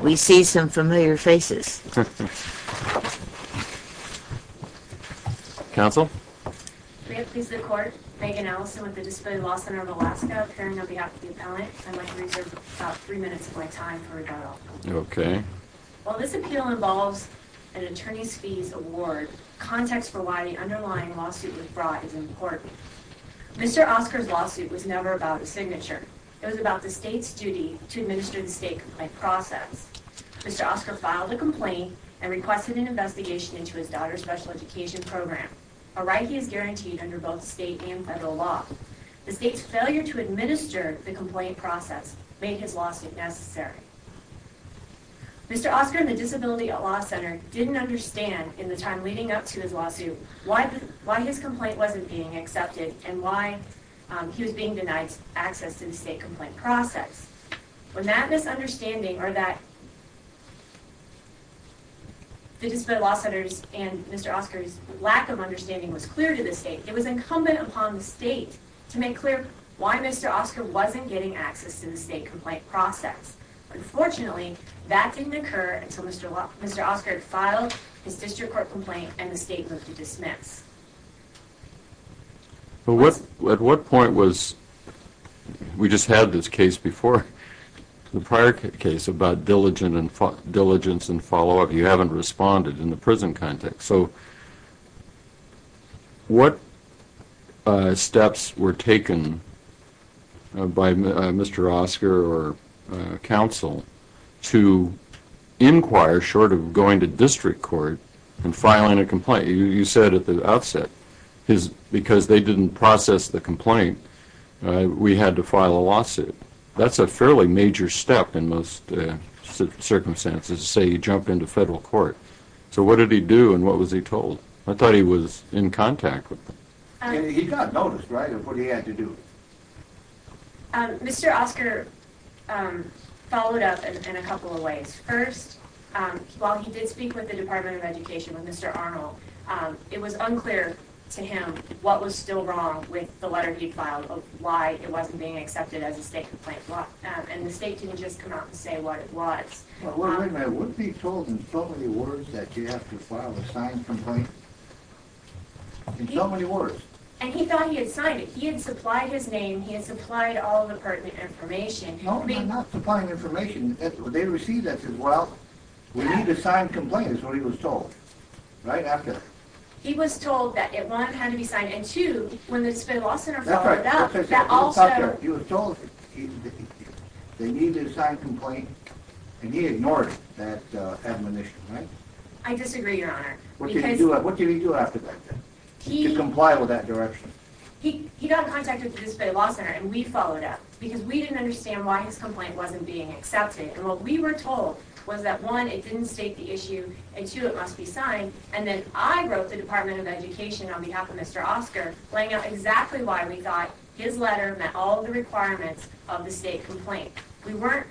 We see some familiar faces. While this appeal involves an attorney's fees award, context for why the underlying lawsuit was brought is important. Mr. Oscar's lawsuit was never about a signature. It was about the state's duty to administer the state complaint process. Mr. Oscar filed a complaint and requested an investigation into his daughter's special education program, a right he has guaranteed under both state and federal law. The state's failure to administer the complaint process made his lawsuit necessary. Mr. Oscar and the Disability Law Center didn't understand why his complaint wasn't being accepted and why he was being denied access to the state complaint process. When that misunderstanding was clear to the state, it was incumbent upon the state to make clear why Mr. Oscar wasn't getting access to the state complaint process. Unfortunately, that didn't occur until Mr. Oscar filed his district court complaint and the state moved to dismiss. to inquire short of going to district court and filing a complaint. You said at the outset, because they didn't process the complaint, we had to file a lawsuit. That's a fairly major step in most circumstances, say you jump into federal court. So what did he do and what was he told? I thought he was in contact with them. He got noticed, right, of what he had to do. Mr. Oscar followed up in a couple of ways. First, while he did speak with the Department of Education, with Mr. Arnold, it was unclear to him what was still wrong with the letter he filed, why it wasn't being accepted as a state complaint. And the state didn't just come out and say what it was. Well, wait a minute, wouldn't he have been told in so many words that you have to file a signed complaint? In so many words. And he thought he had signed it. He had supplied his name, he had supplied all the pertinent information. No, I'm not supplying information. They received it. Well, we need a signed complaint is what he was told, right, after that. He was told that it, one, had to be signed, and two, when the state law center followed up, that also... That's right, that's what I said. He was told they needed a signed complaint and he ignored that admonition, right? I disagree, Your Honor. What did he do after that, to comply with that direction? He got in contact with the disability law center and we followed up, because we didn't understand why his complaint wasn't being accepted. And what we were told was that, one, it didn't state the issue, and two, it must be signed. And then I wrote the Department of Education on behalf of Mr. Oscar, laying out exactly why we thought his letter met all the requirements of the state complaint. We weren't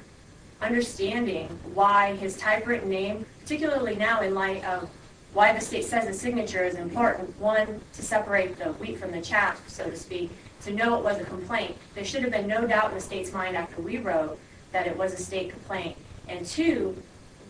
understanding why his typewritten name, particularly now in light of why the state says a signature is important, one, to separate the wheat from the chaff, so to speak, to know it was a complaint. There should have been no doubt in the state's mind after we wrote that it was a state complaint. And two,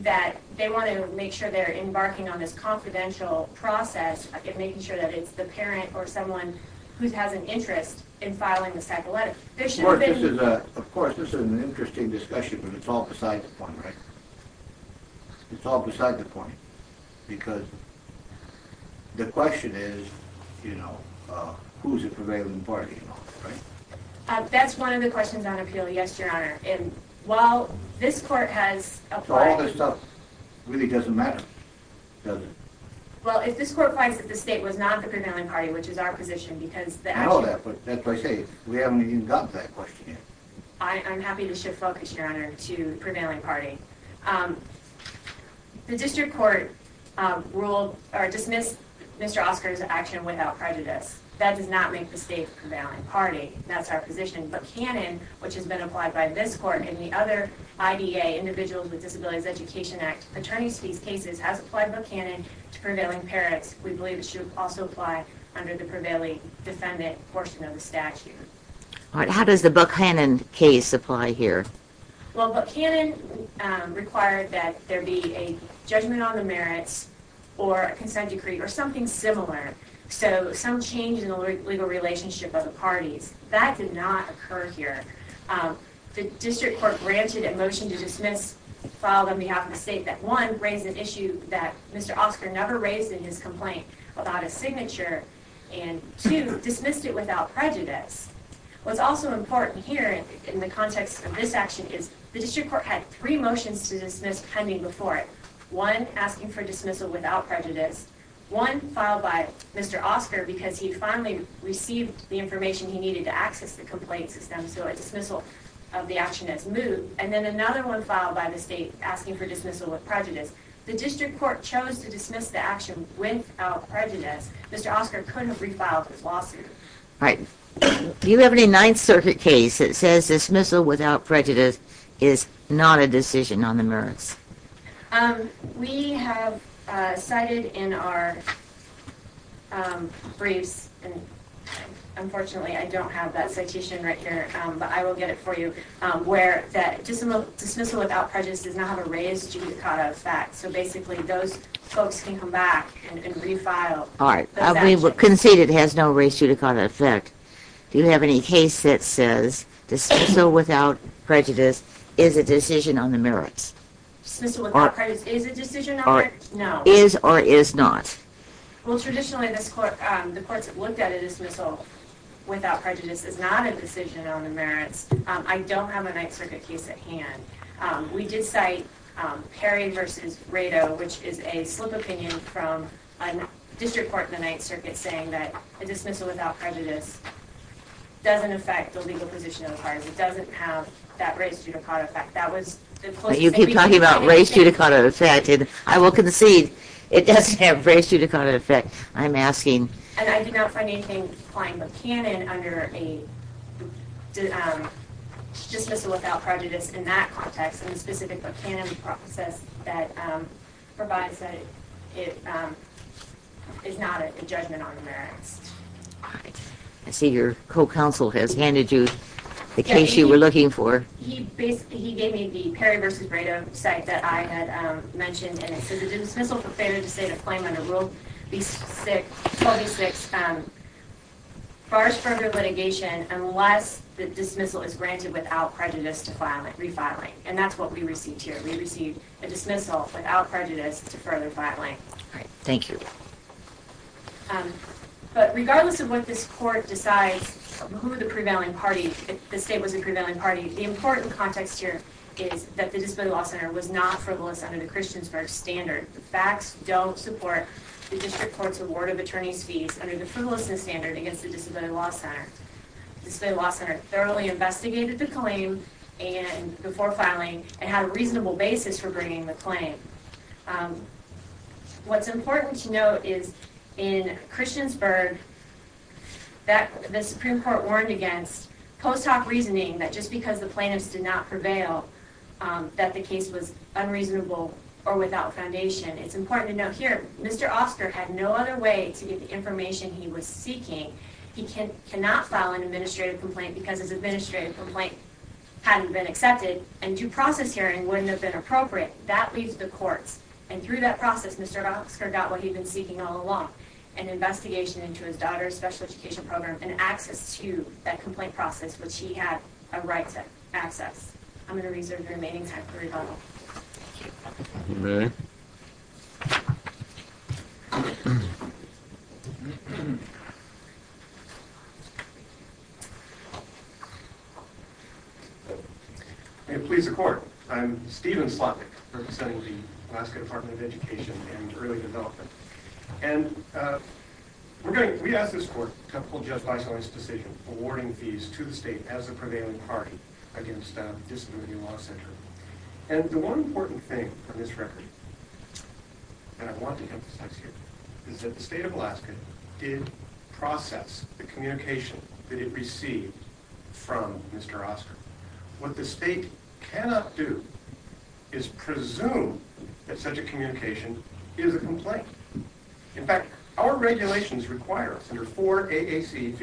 that they want to make sure they're embarking on this confidential process and making sure that it's the parent or someone who has an interest in filing this type of letter. Of course, this is an interesting discussion, but it's all beside the point, right? It's all beside the point, because the question is, you know, who's the prevailing party, right? That's one of the questions on appeal, yes, Your Honor. And while this court has applied... So all this stuff really doesn't matter, does it? Well, if this court finds that the state was not the prevailing party, which is our position, because the action... Well, that's what I say. We haven't even gotten to that question yet. I'm happy to shift focus, Your Honor, to the prevailing party. The district court ruled or dismissed Mr. Oscar's action without prejudice. That does not make the state the prevailing party. That's our position. But canon, which has been applied by this court and the other IDA, Individuals with Disabilities Education Act, attorneys to these cases, has applied both canon to prevailing parents. We believe it should also apply under the prevailing defendant portion of the statute. All right. How does the Buck-Hannon case apply here? Well, Buck-Hannon required that there be a judgment on the merits or a consent decree or something similar, so some change in the legal relationship of the parties. That did not occur here. The district court granted a motion to dismiss, filed on behalf of the state, that, one, raised an issue that Mr. Oscar never raised in his complaint without a signature, and, two, dismissed it without prejudice. What's also important here in the context of this action is the district court had three motions to dismiss pending before it, one asking for dismissal without prejudice, one filed by Mr. Oscar because he finally received the information he needed to access the complaint system, so a dismissal of the action has moved, and then another one filed by the state asking for dismissal with prejudice. The district court chose to dismiss the action without prejudice. Mr. Oscar couldn't have refiled his lawsuit. All right. Do you have any Ninth Circuit case that says dismissal without prejudice is not a decision on the merits? We have cited in our briefs, and unfortunately I don't have that citation right here, but I will get it for you, where that dismissal without prejudice does not have a raised judicata effect, so basically those folks can come back and refile that action. All right. We conceded it has no raised judicata effect. Do you have any case that says dismissal without prejudice is a decision on the merits? Dismissal without prejudice is a decision on the merits? No. Is or is not? Well, traditionally the courts have looked at a dismissal without prejudice as not a decision on the merits. I don't have a Ninth Circuit case at hand. We did cite Perry v. Rado, which is a slip opinion from a district court in the Ninth Circuit saying that a dismissal without prejudice doesn't affect the legal position of the parties. It doesn't have that raised judicata effect. You keep talking about raised judicata effect. I will concede it doesn't have raised judicata effect, I'm asking. And I did not find anything applying the canon under a dismissal without prejudice in that context, in the specific book canon that provides that it is not a judgment on the merits. All right. I see your co-counsel has handed you the case you were looking for. He gave me the Perry v. Rado site that I had mentioned, and it says a dismissal for failure to state a claim under Rule 26 bars further litigation unless the dismissal is granted without prejudice to refiling. And that's what we received here. We received a dismissal without prejudice to further filing. All right. Thank you. But regardless of what this court decides, who are the prevailing parties, if the state was a prevailing party, the important context here is that the Disability Law Center was not frivolous under the Christiansburg standard. The facts don't support the district court's award of attorney's fees under the frivolousness standard against the Disability Law Center. The Disability Law Center thoroughly investigated the claim before filing and had a reasonable basis for bringing the claim. What's important to note is in Christiansburg, the Supreme Court warned against post hoc reasoning that just because the plaintiffs did not prevail that the case was unreasonable or without foundation. It's important to note here Mr. Oscar had no other way to get the information he was seeking. He cannot file an administrative complaint because his administrative complaint hadn't been accepted and due process hearing wouldn't have been appropriate. That leaves the courts and through that process Mr. Oscar got what he'd been seeking all along, an investigation into his daughter's special education program and access to that complaint process which he had a right to access. I'm going to reserve the remaining time for rebuttal. Thank you. Okay. May it please the court. I'm Stephen Slotnick representing the Alaska Department of Education and Early Development. We asked this court to uphold Judge Bison's decision awarding fees to the state as a prevailing party against the Disability Law Center. And the one important thing on this record, and I want to emphasize here, is that the state of Alaska did process the communication that it received from Mr. Oscar. What the state cannot do is presume that such a communication is a complaint. In fact, our regulations require under 4 AAC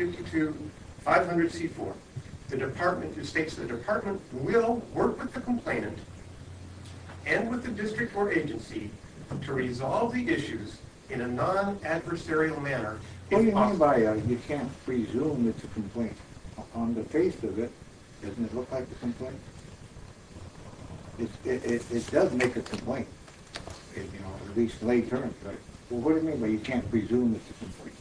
52500C4, the department will work with the complainant and with the district or agency to resolve the issues in a non-adversarial manner. What do you mean by you can't presume it's a complaint? On the face of it, doesn't it look like a complaint? It does make a complaint, at least lay terms. What do you mean by you can't presume it's a complaint?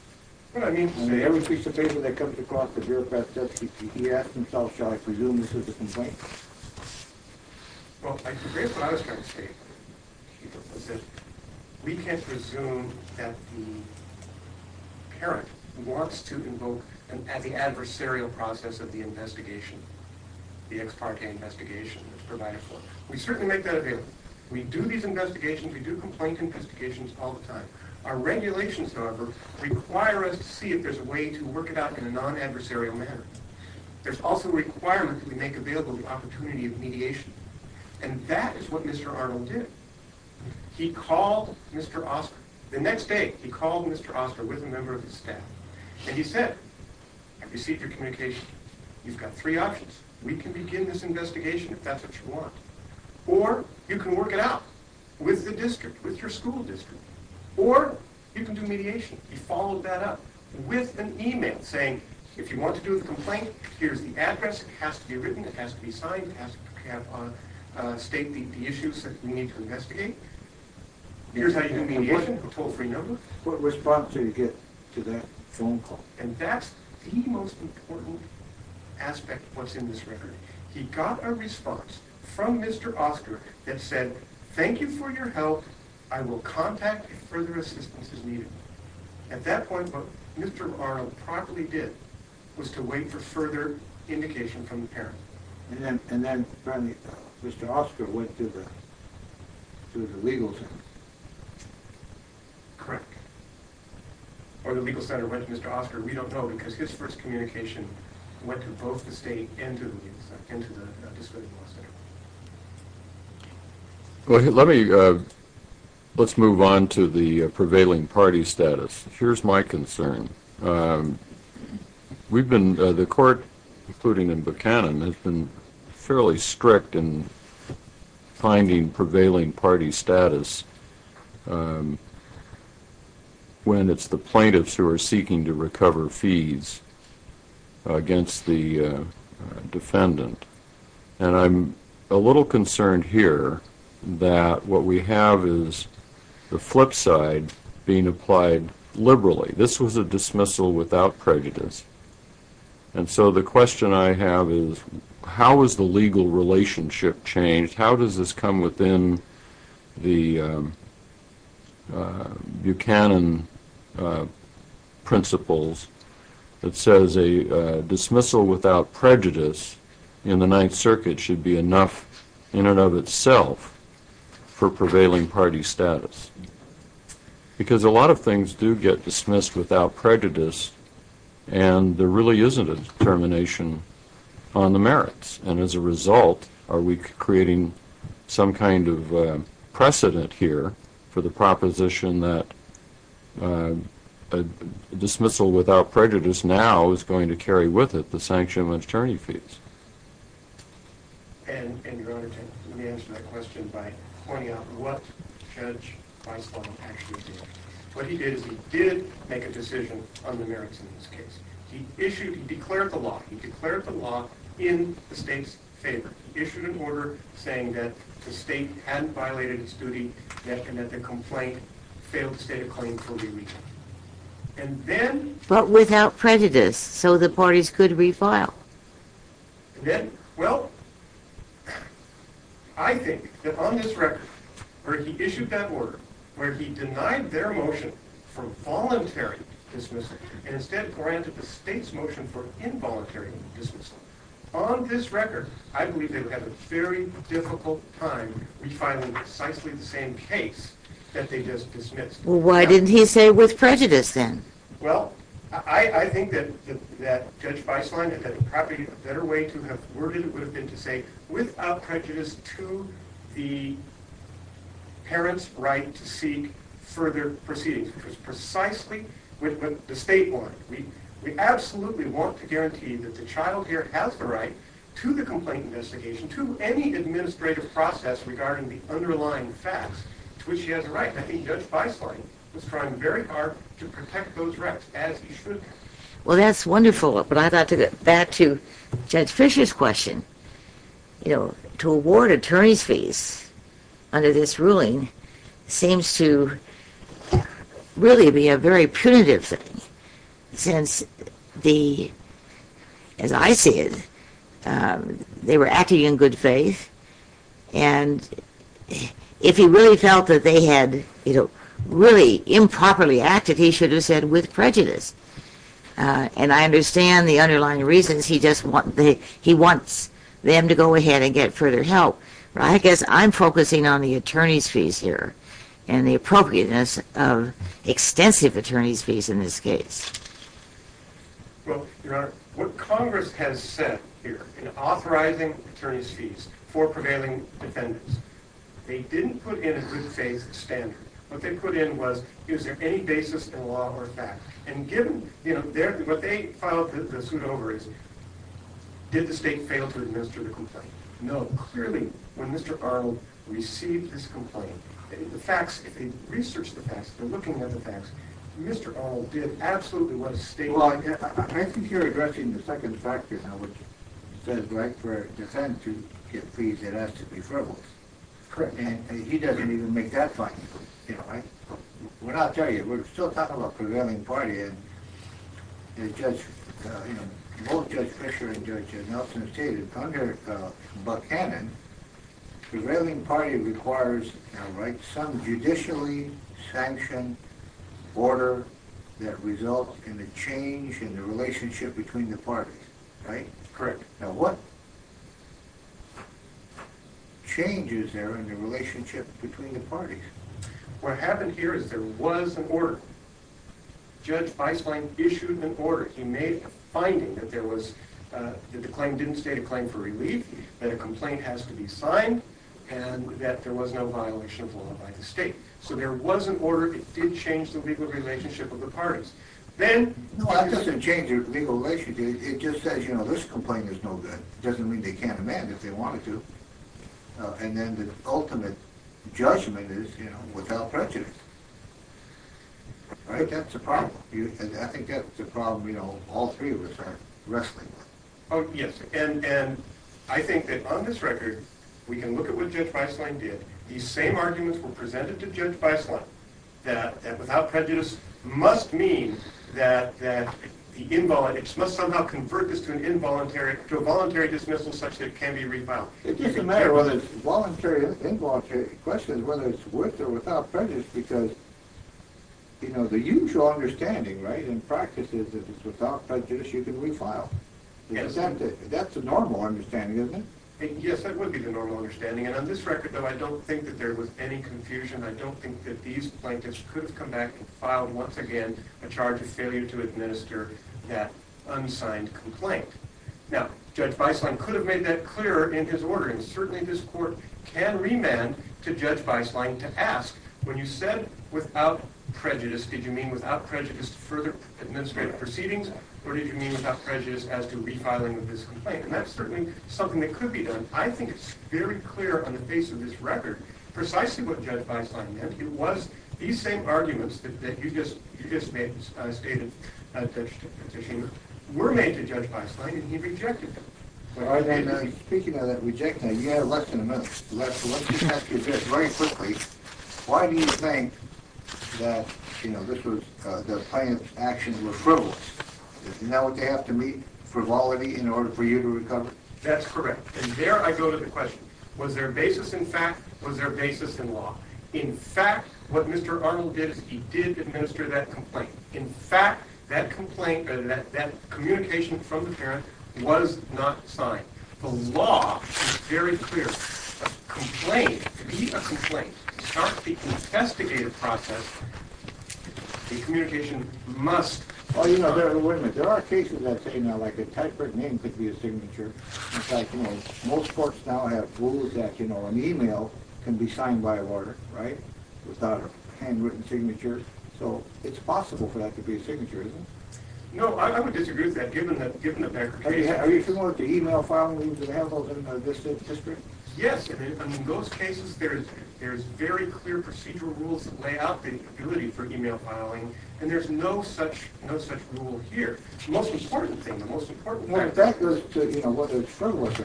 On every piece of paper that comes across the bureaucrat's desk, he asks himself, shall I presume this is a complaint? Well, I disagree with what I was trying to say. We can't presume that the parent wants to invoke the adversarial process of the investigation, the ex parte investigation that's provided for. We certainly make that available. We do these investigations, we do complaint investigations all the time. Our regulations, however, require us to see if there's a way to work it out in a non-adversarial manner. There's also a requirement that we make available the opportunity of mediation, and that is what Mr. Arnold did. He called Mr. Oscar. The next day, he called Mr. Oscar with a member of his staff, and he said, I've received your communication. You've got three options. We can begin this investigation if that's what you want, or you can work it out with the district, with your school district, or you can do mediation. He followed that up with an email saying, if you want to do the complaint, here's the address. It has to be written. It has to be signed. It has to state the issues that we need to investigate. Here's how you do mediation, a toll-free number. What response did he get to that phone call? And that's the most important aspect of what's in this record. He got a response from Mr. Oscar that said, thank you for your help. I will contact if further assistance is needed. At that point, what Mr. Arnold properly did was to wait for further indication from the parent. And then Mr. Oscar went to the legal center. Correct. Or the legal center went to Mr. Oscar. We don't know because his first communication went to both the state and to the legal center, and to the disability law center. Let's move on to the prevailing party status. Here's my concern. The court, including in Buchanan, has been fairly strict in finding prevailing party status when it's the plaintiffs who are seeking to recover fees against the defendant. And I'm a little concerned here that what we have is the flip side being applied liberally. This was a dismissal without prejudice. And so the question I have is, how has the legal relationship changed? How does this come within the Buchanan principles that says a dismissal without prejudice in the Ninth Circuit should be enough in and of itself for prevailing party status? Because a lot of things do get dismissed without prejudice, and there really isn't a determination on the merits. And as a result, are we creating some kind of precedent here for the proposition that a dismissal without prejudice now is going to carry with it the sanction of attorney fees? And, Your Honor, let me answer that question by pointing out what Judge Weislau actually did. What he did is he did make a decision on the merits in this case. He declared the law. He declared the law in the state's favor. He issued an order saying that the state hadn't violated its duty, and that the complaint failed to state a claim for re-retirement. But without prejudice, so the parties could refile. Well, I think that on this record, where he issued that order, where he denied their motion for voluntary dismissal and instead granted the state's motion for involuntary dismissal, on this record, I believe they would have a very difficult time refiling precisely the same case that they just dismissed. Well, why didn't he say with prejudice then? Well, I think that Judge Weislau had probably a better way to have worded it would have been to say, without prejudice, to the parents' right to seek further proceedings, which was precisely what the state wanted. We absolutely want to guarantee that the child here has the right to the complaint investigation, to any administrative process regarding the underlying facts, to which he has a right. And I think Judge Weislau was trying very hard to protect those rights, as he should have. Well, that's wonderful, but I'd like to get back to Judge Fisher's question. You know, to award attorney's fees under this ruling seems to really be a very punitive thing, since, as I see it, they were acting in good faith, and if he really felt that they had really improperly acted, he should have said with prejudice. And I understand the underlying reasons. He just wants them to go ahead and get further help. I guess I'm focusing on the attorney's fees here, and the appropriateness of extensive attorney's fees in this case. Well, Your Honor, what Congress has said here in authorizing attorney's fees for prevailing defendants, they didn't put in a good faith standard. What they put in was, is there any basis in law or fact? And given, you know, what they filed the suit over is, did the state fail to administer the complaint? No. Clearly, when Mr. Arnold received this complaint, the facts, if they researched the facts, they're looking at the facts, Mr. Arnold did absolutely what the state did. Well, I think you're addressing the second factor now, which says, right, for a defendant to get fees that are absolutely frivolous. Correct. And he doesn't even make that fine. I'll tell you, we're still talking about prevailing party, and both Judge Fisher and Judge Nelson have stated under Buckhannon, prevailing party requires some judicially sanctioned order that results in a change in the relationship between the parties. Right? Correct. Now, what changes there in the relationship between the parties? What happened here is there was an order. Judge Feistlein issued an order. He made a finding that there was, that the claim didn't state a claim for relief, that a complaint has to be signed, and that there was no violation of law by the state. So there was an order that did change the legal relationship of the parties. No, that doesn't change the legal relationship. It just says, you know, this complaint is no good. It doesn't mean they can't amend it if they wanted to. And then the ultimate judgment is, you know, without prejudice. Right? That's a problem. I think that's a problem, you know, all three of us are wrestling with. Oh, yes. And I think that on this record, we can look at what Judge Feistlein did. These same arguments were presented to Judge Feistlein, that without prejudice must mean that the involuntary, must somehow convert this to a voluntary dismissal such that it can be refiled. It doesn't matter whether it's voluntary or involuntary. The question is whether it's with or without prejudice, because, you know, the usual understanding, right, in practice, is that it's without prejudice you can refile. Yes. That's a normal understanding, isn't it? Yes, that would be the normal understanding. And on this record, though, I don't think that there was any confusion. I don't think that these plaintiffs could have come back and filed once again a charge of failure to administer that unsigned complaint. Now, Judge Feistlein could have made that clearer in his order, and certainly this court can remand to Judge Feistlein to ask, when you said without prejudice, did you mean without prejudice to further administrative proceedings, or did you mean without prejudice as to refiling of this complaint? And that's certainly something that could be done. I think it's very clear on the face of this record precisely what Judge Feistlein meant. It was these same arguments that you just stated, Judge Schumer, were made to Judge Feistlein, and he rejected them. Speaking of that rejection, you had less than a minute left, so let's just ask you this very quickly. Why do you think that, you know, the plaintiff's actions were frivolous? Now would they have to meet frivolity in order for you to recover? That's correct. And there I go to the question, was there a basis in fact? Was there a basis in law? In fact, what Mr. Arnold did is he did administer that complaint. In fact, that complaint, that communication from the parent was not signed. The law is very clear. A complaint, to be a complaint, to start the investigative process, the communication must be signed. Oh, you know, wait a minute. There are cases I'd say now like a typewritten name could be a signature. In fact, most courts now have rules that, you know, an e-mail can be signed by order, right, without a handwritten signature. So it's possible for that to be a signature, isn't it? No, I would disagree with that given that there are cases. Are you familiar with the e-mail filing rules? Do they have those in this district? Yes, and in those cases there's very clear procedural rules that lay out the ability for e-mail filing, and there's no such rule here. The most important thing, the most important thing. Well, that goes to, you know, whether it's true or not.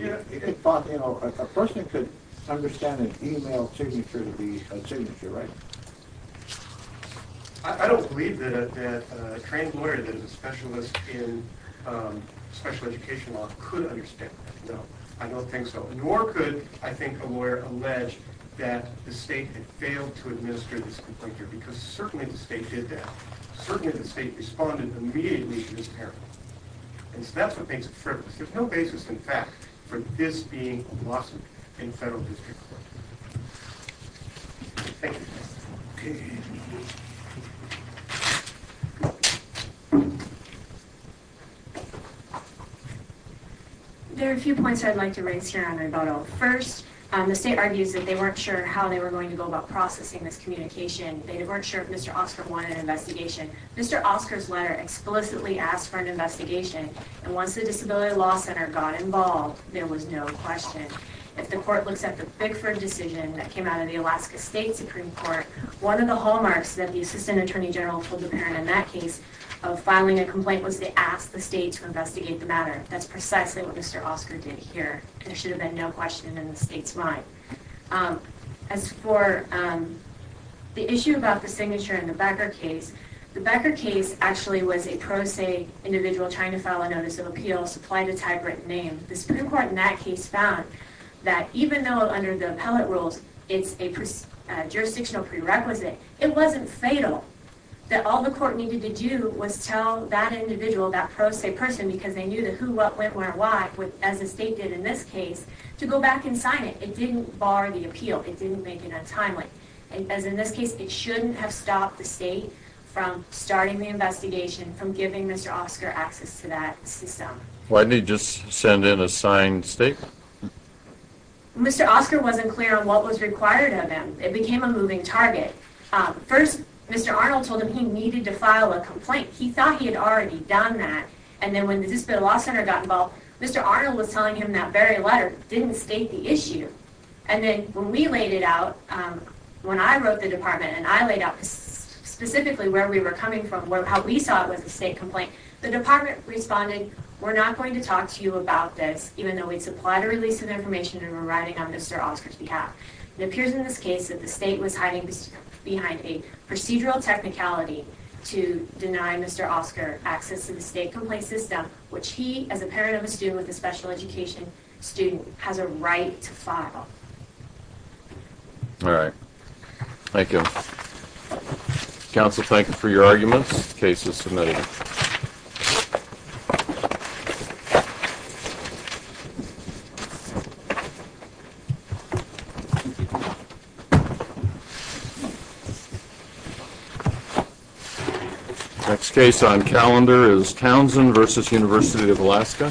Yeah. You know, a person could understand an e-mail signature to be a signature, right? I don't believe that a trained lawyer that is a specialist in special education law could understand that. No, I don't think so. Nor could, I think, a lawyer allege that the state had failed to administer this complaint here because certainly the state did that. Certainly the state responded immediately to this parent. And so that's what makes it frivolous. There's no basis, in fact, for this being a lawsuit in federal district court. Thank you. Okay. There are a few points I'd like to raise here on the rebuttal. First, the state argues that they weren't sure how they were going to go about processing this communication. They weren't sure if Mr. Oscar wanted an investigation. Mr. Oscar's letter explicitly asked for an investigation, and once the Disability Law Center got involved there was no question. If the court looks at the Bickford decision that came out of the Alaska State Supreme Court, one of the hallmarks that the assistant attorney general told the parent in that case of filing a complaint was they asked the state to investigate the matter. That's precisely what Mr. Oscar did here. There should have been no question in the state's mind. As for the issue about the signature in the Becker case, the Becker case actually was a pro se individual trying to file a notice of appeal supplied a typewritten name. The Supreme Court in that case found that even though under the appellate rules it's a jurisdictional prerequisite, it wasn't fatal that all the court needed to do was tell that individual, that pro se person, because they knew the who, what, when, where, why, as the state did in this case, to go back and sign it. It didn't bar the appeal. It didn't make it untimely. As in this case, it shouldn't have stopped the state from starting the investigation, from giving Mr. Oscar access to that system. Why didn't they just send in a signed statement? Mr. Oscar wasn't clear on what was required of him. It became a moving target. First, Mr. Arnold told him he needed to file a complaint. He thought he had already done that, and then when the Disability Law Center got involved, Mr. Arnold was telling him that very letter didn't state the issue. And then when we laid it out, when I wrote the department, and I laid out specifically where we were coming from, how we saw it was a state complaint, the department responded, we're not going to talk to you about this, even though we supplied a release of information and we're writing on Mr. Oscar's behalf. It appears in this case that the state was hiding behind a procedural technicality to deny Mr. Oscar access to the state complaint system, which he, as a parent of a student with a special education student, has a right to file. All right. Thank you. Counsel, thank you for your arguments. Case is submitted. Next case on calendar is Townsend v. University of Alaska. Thank you.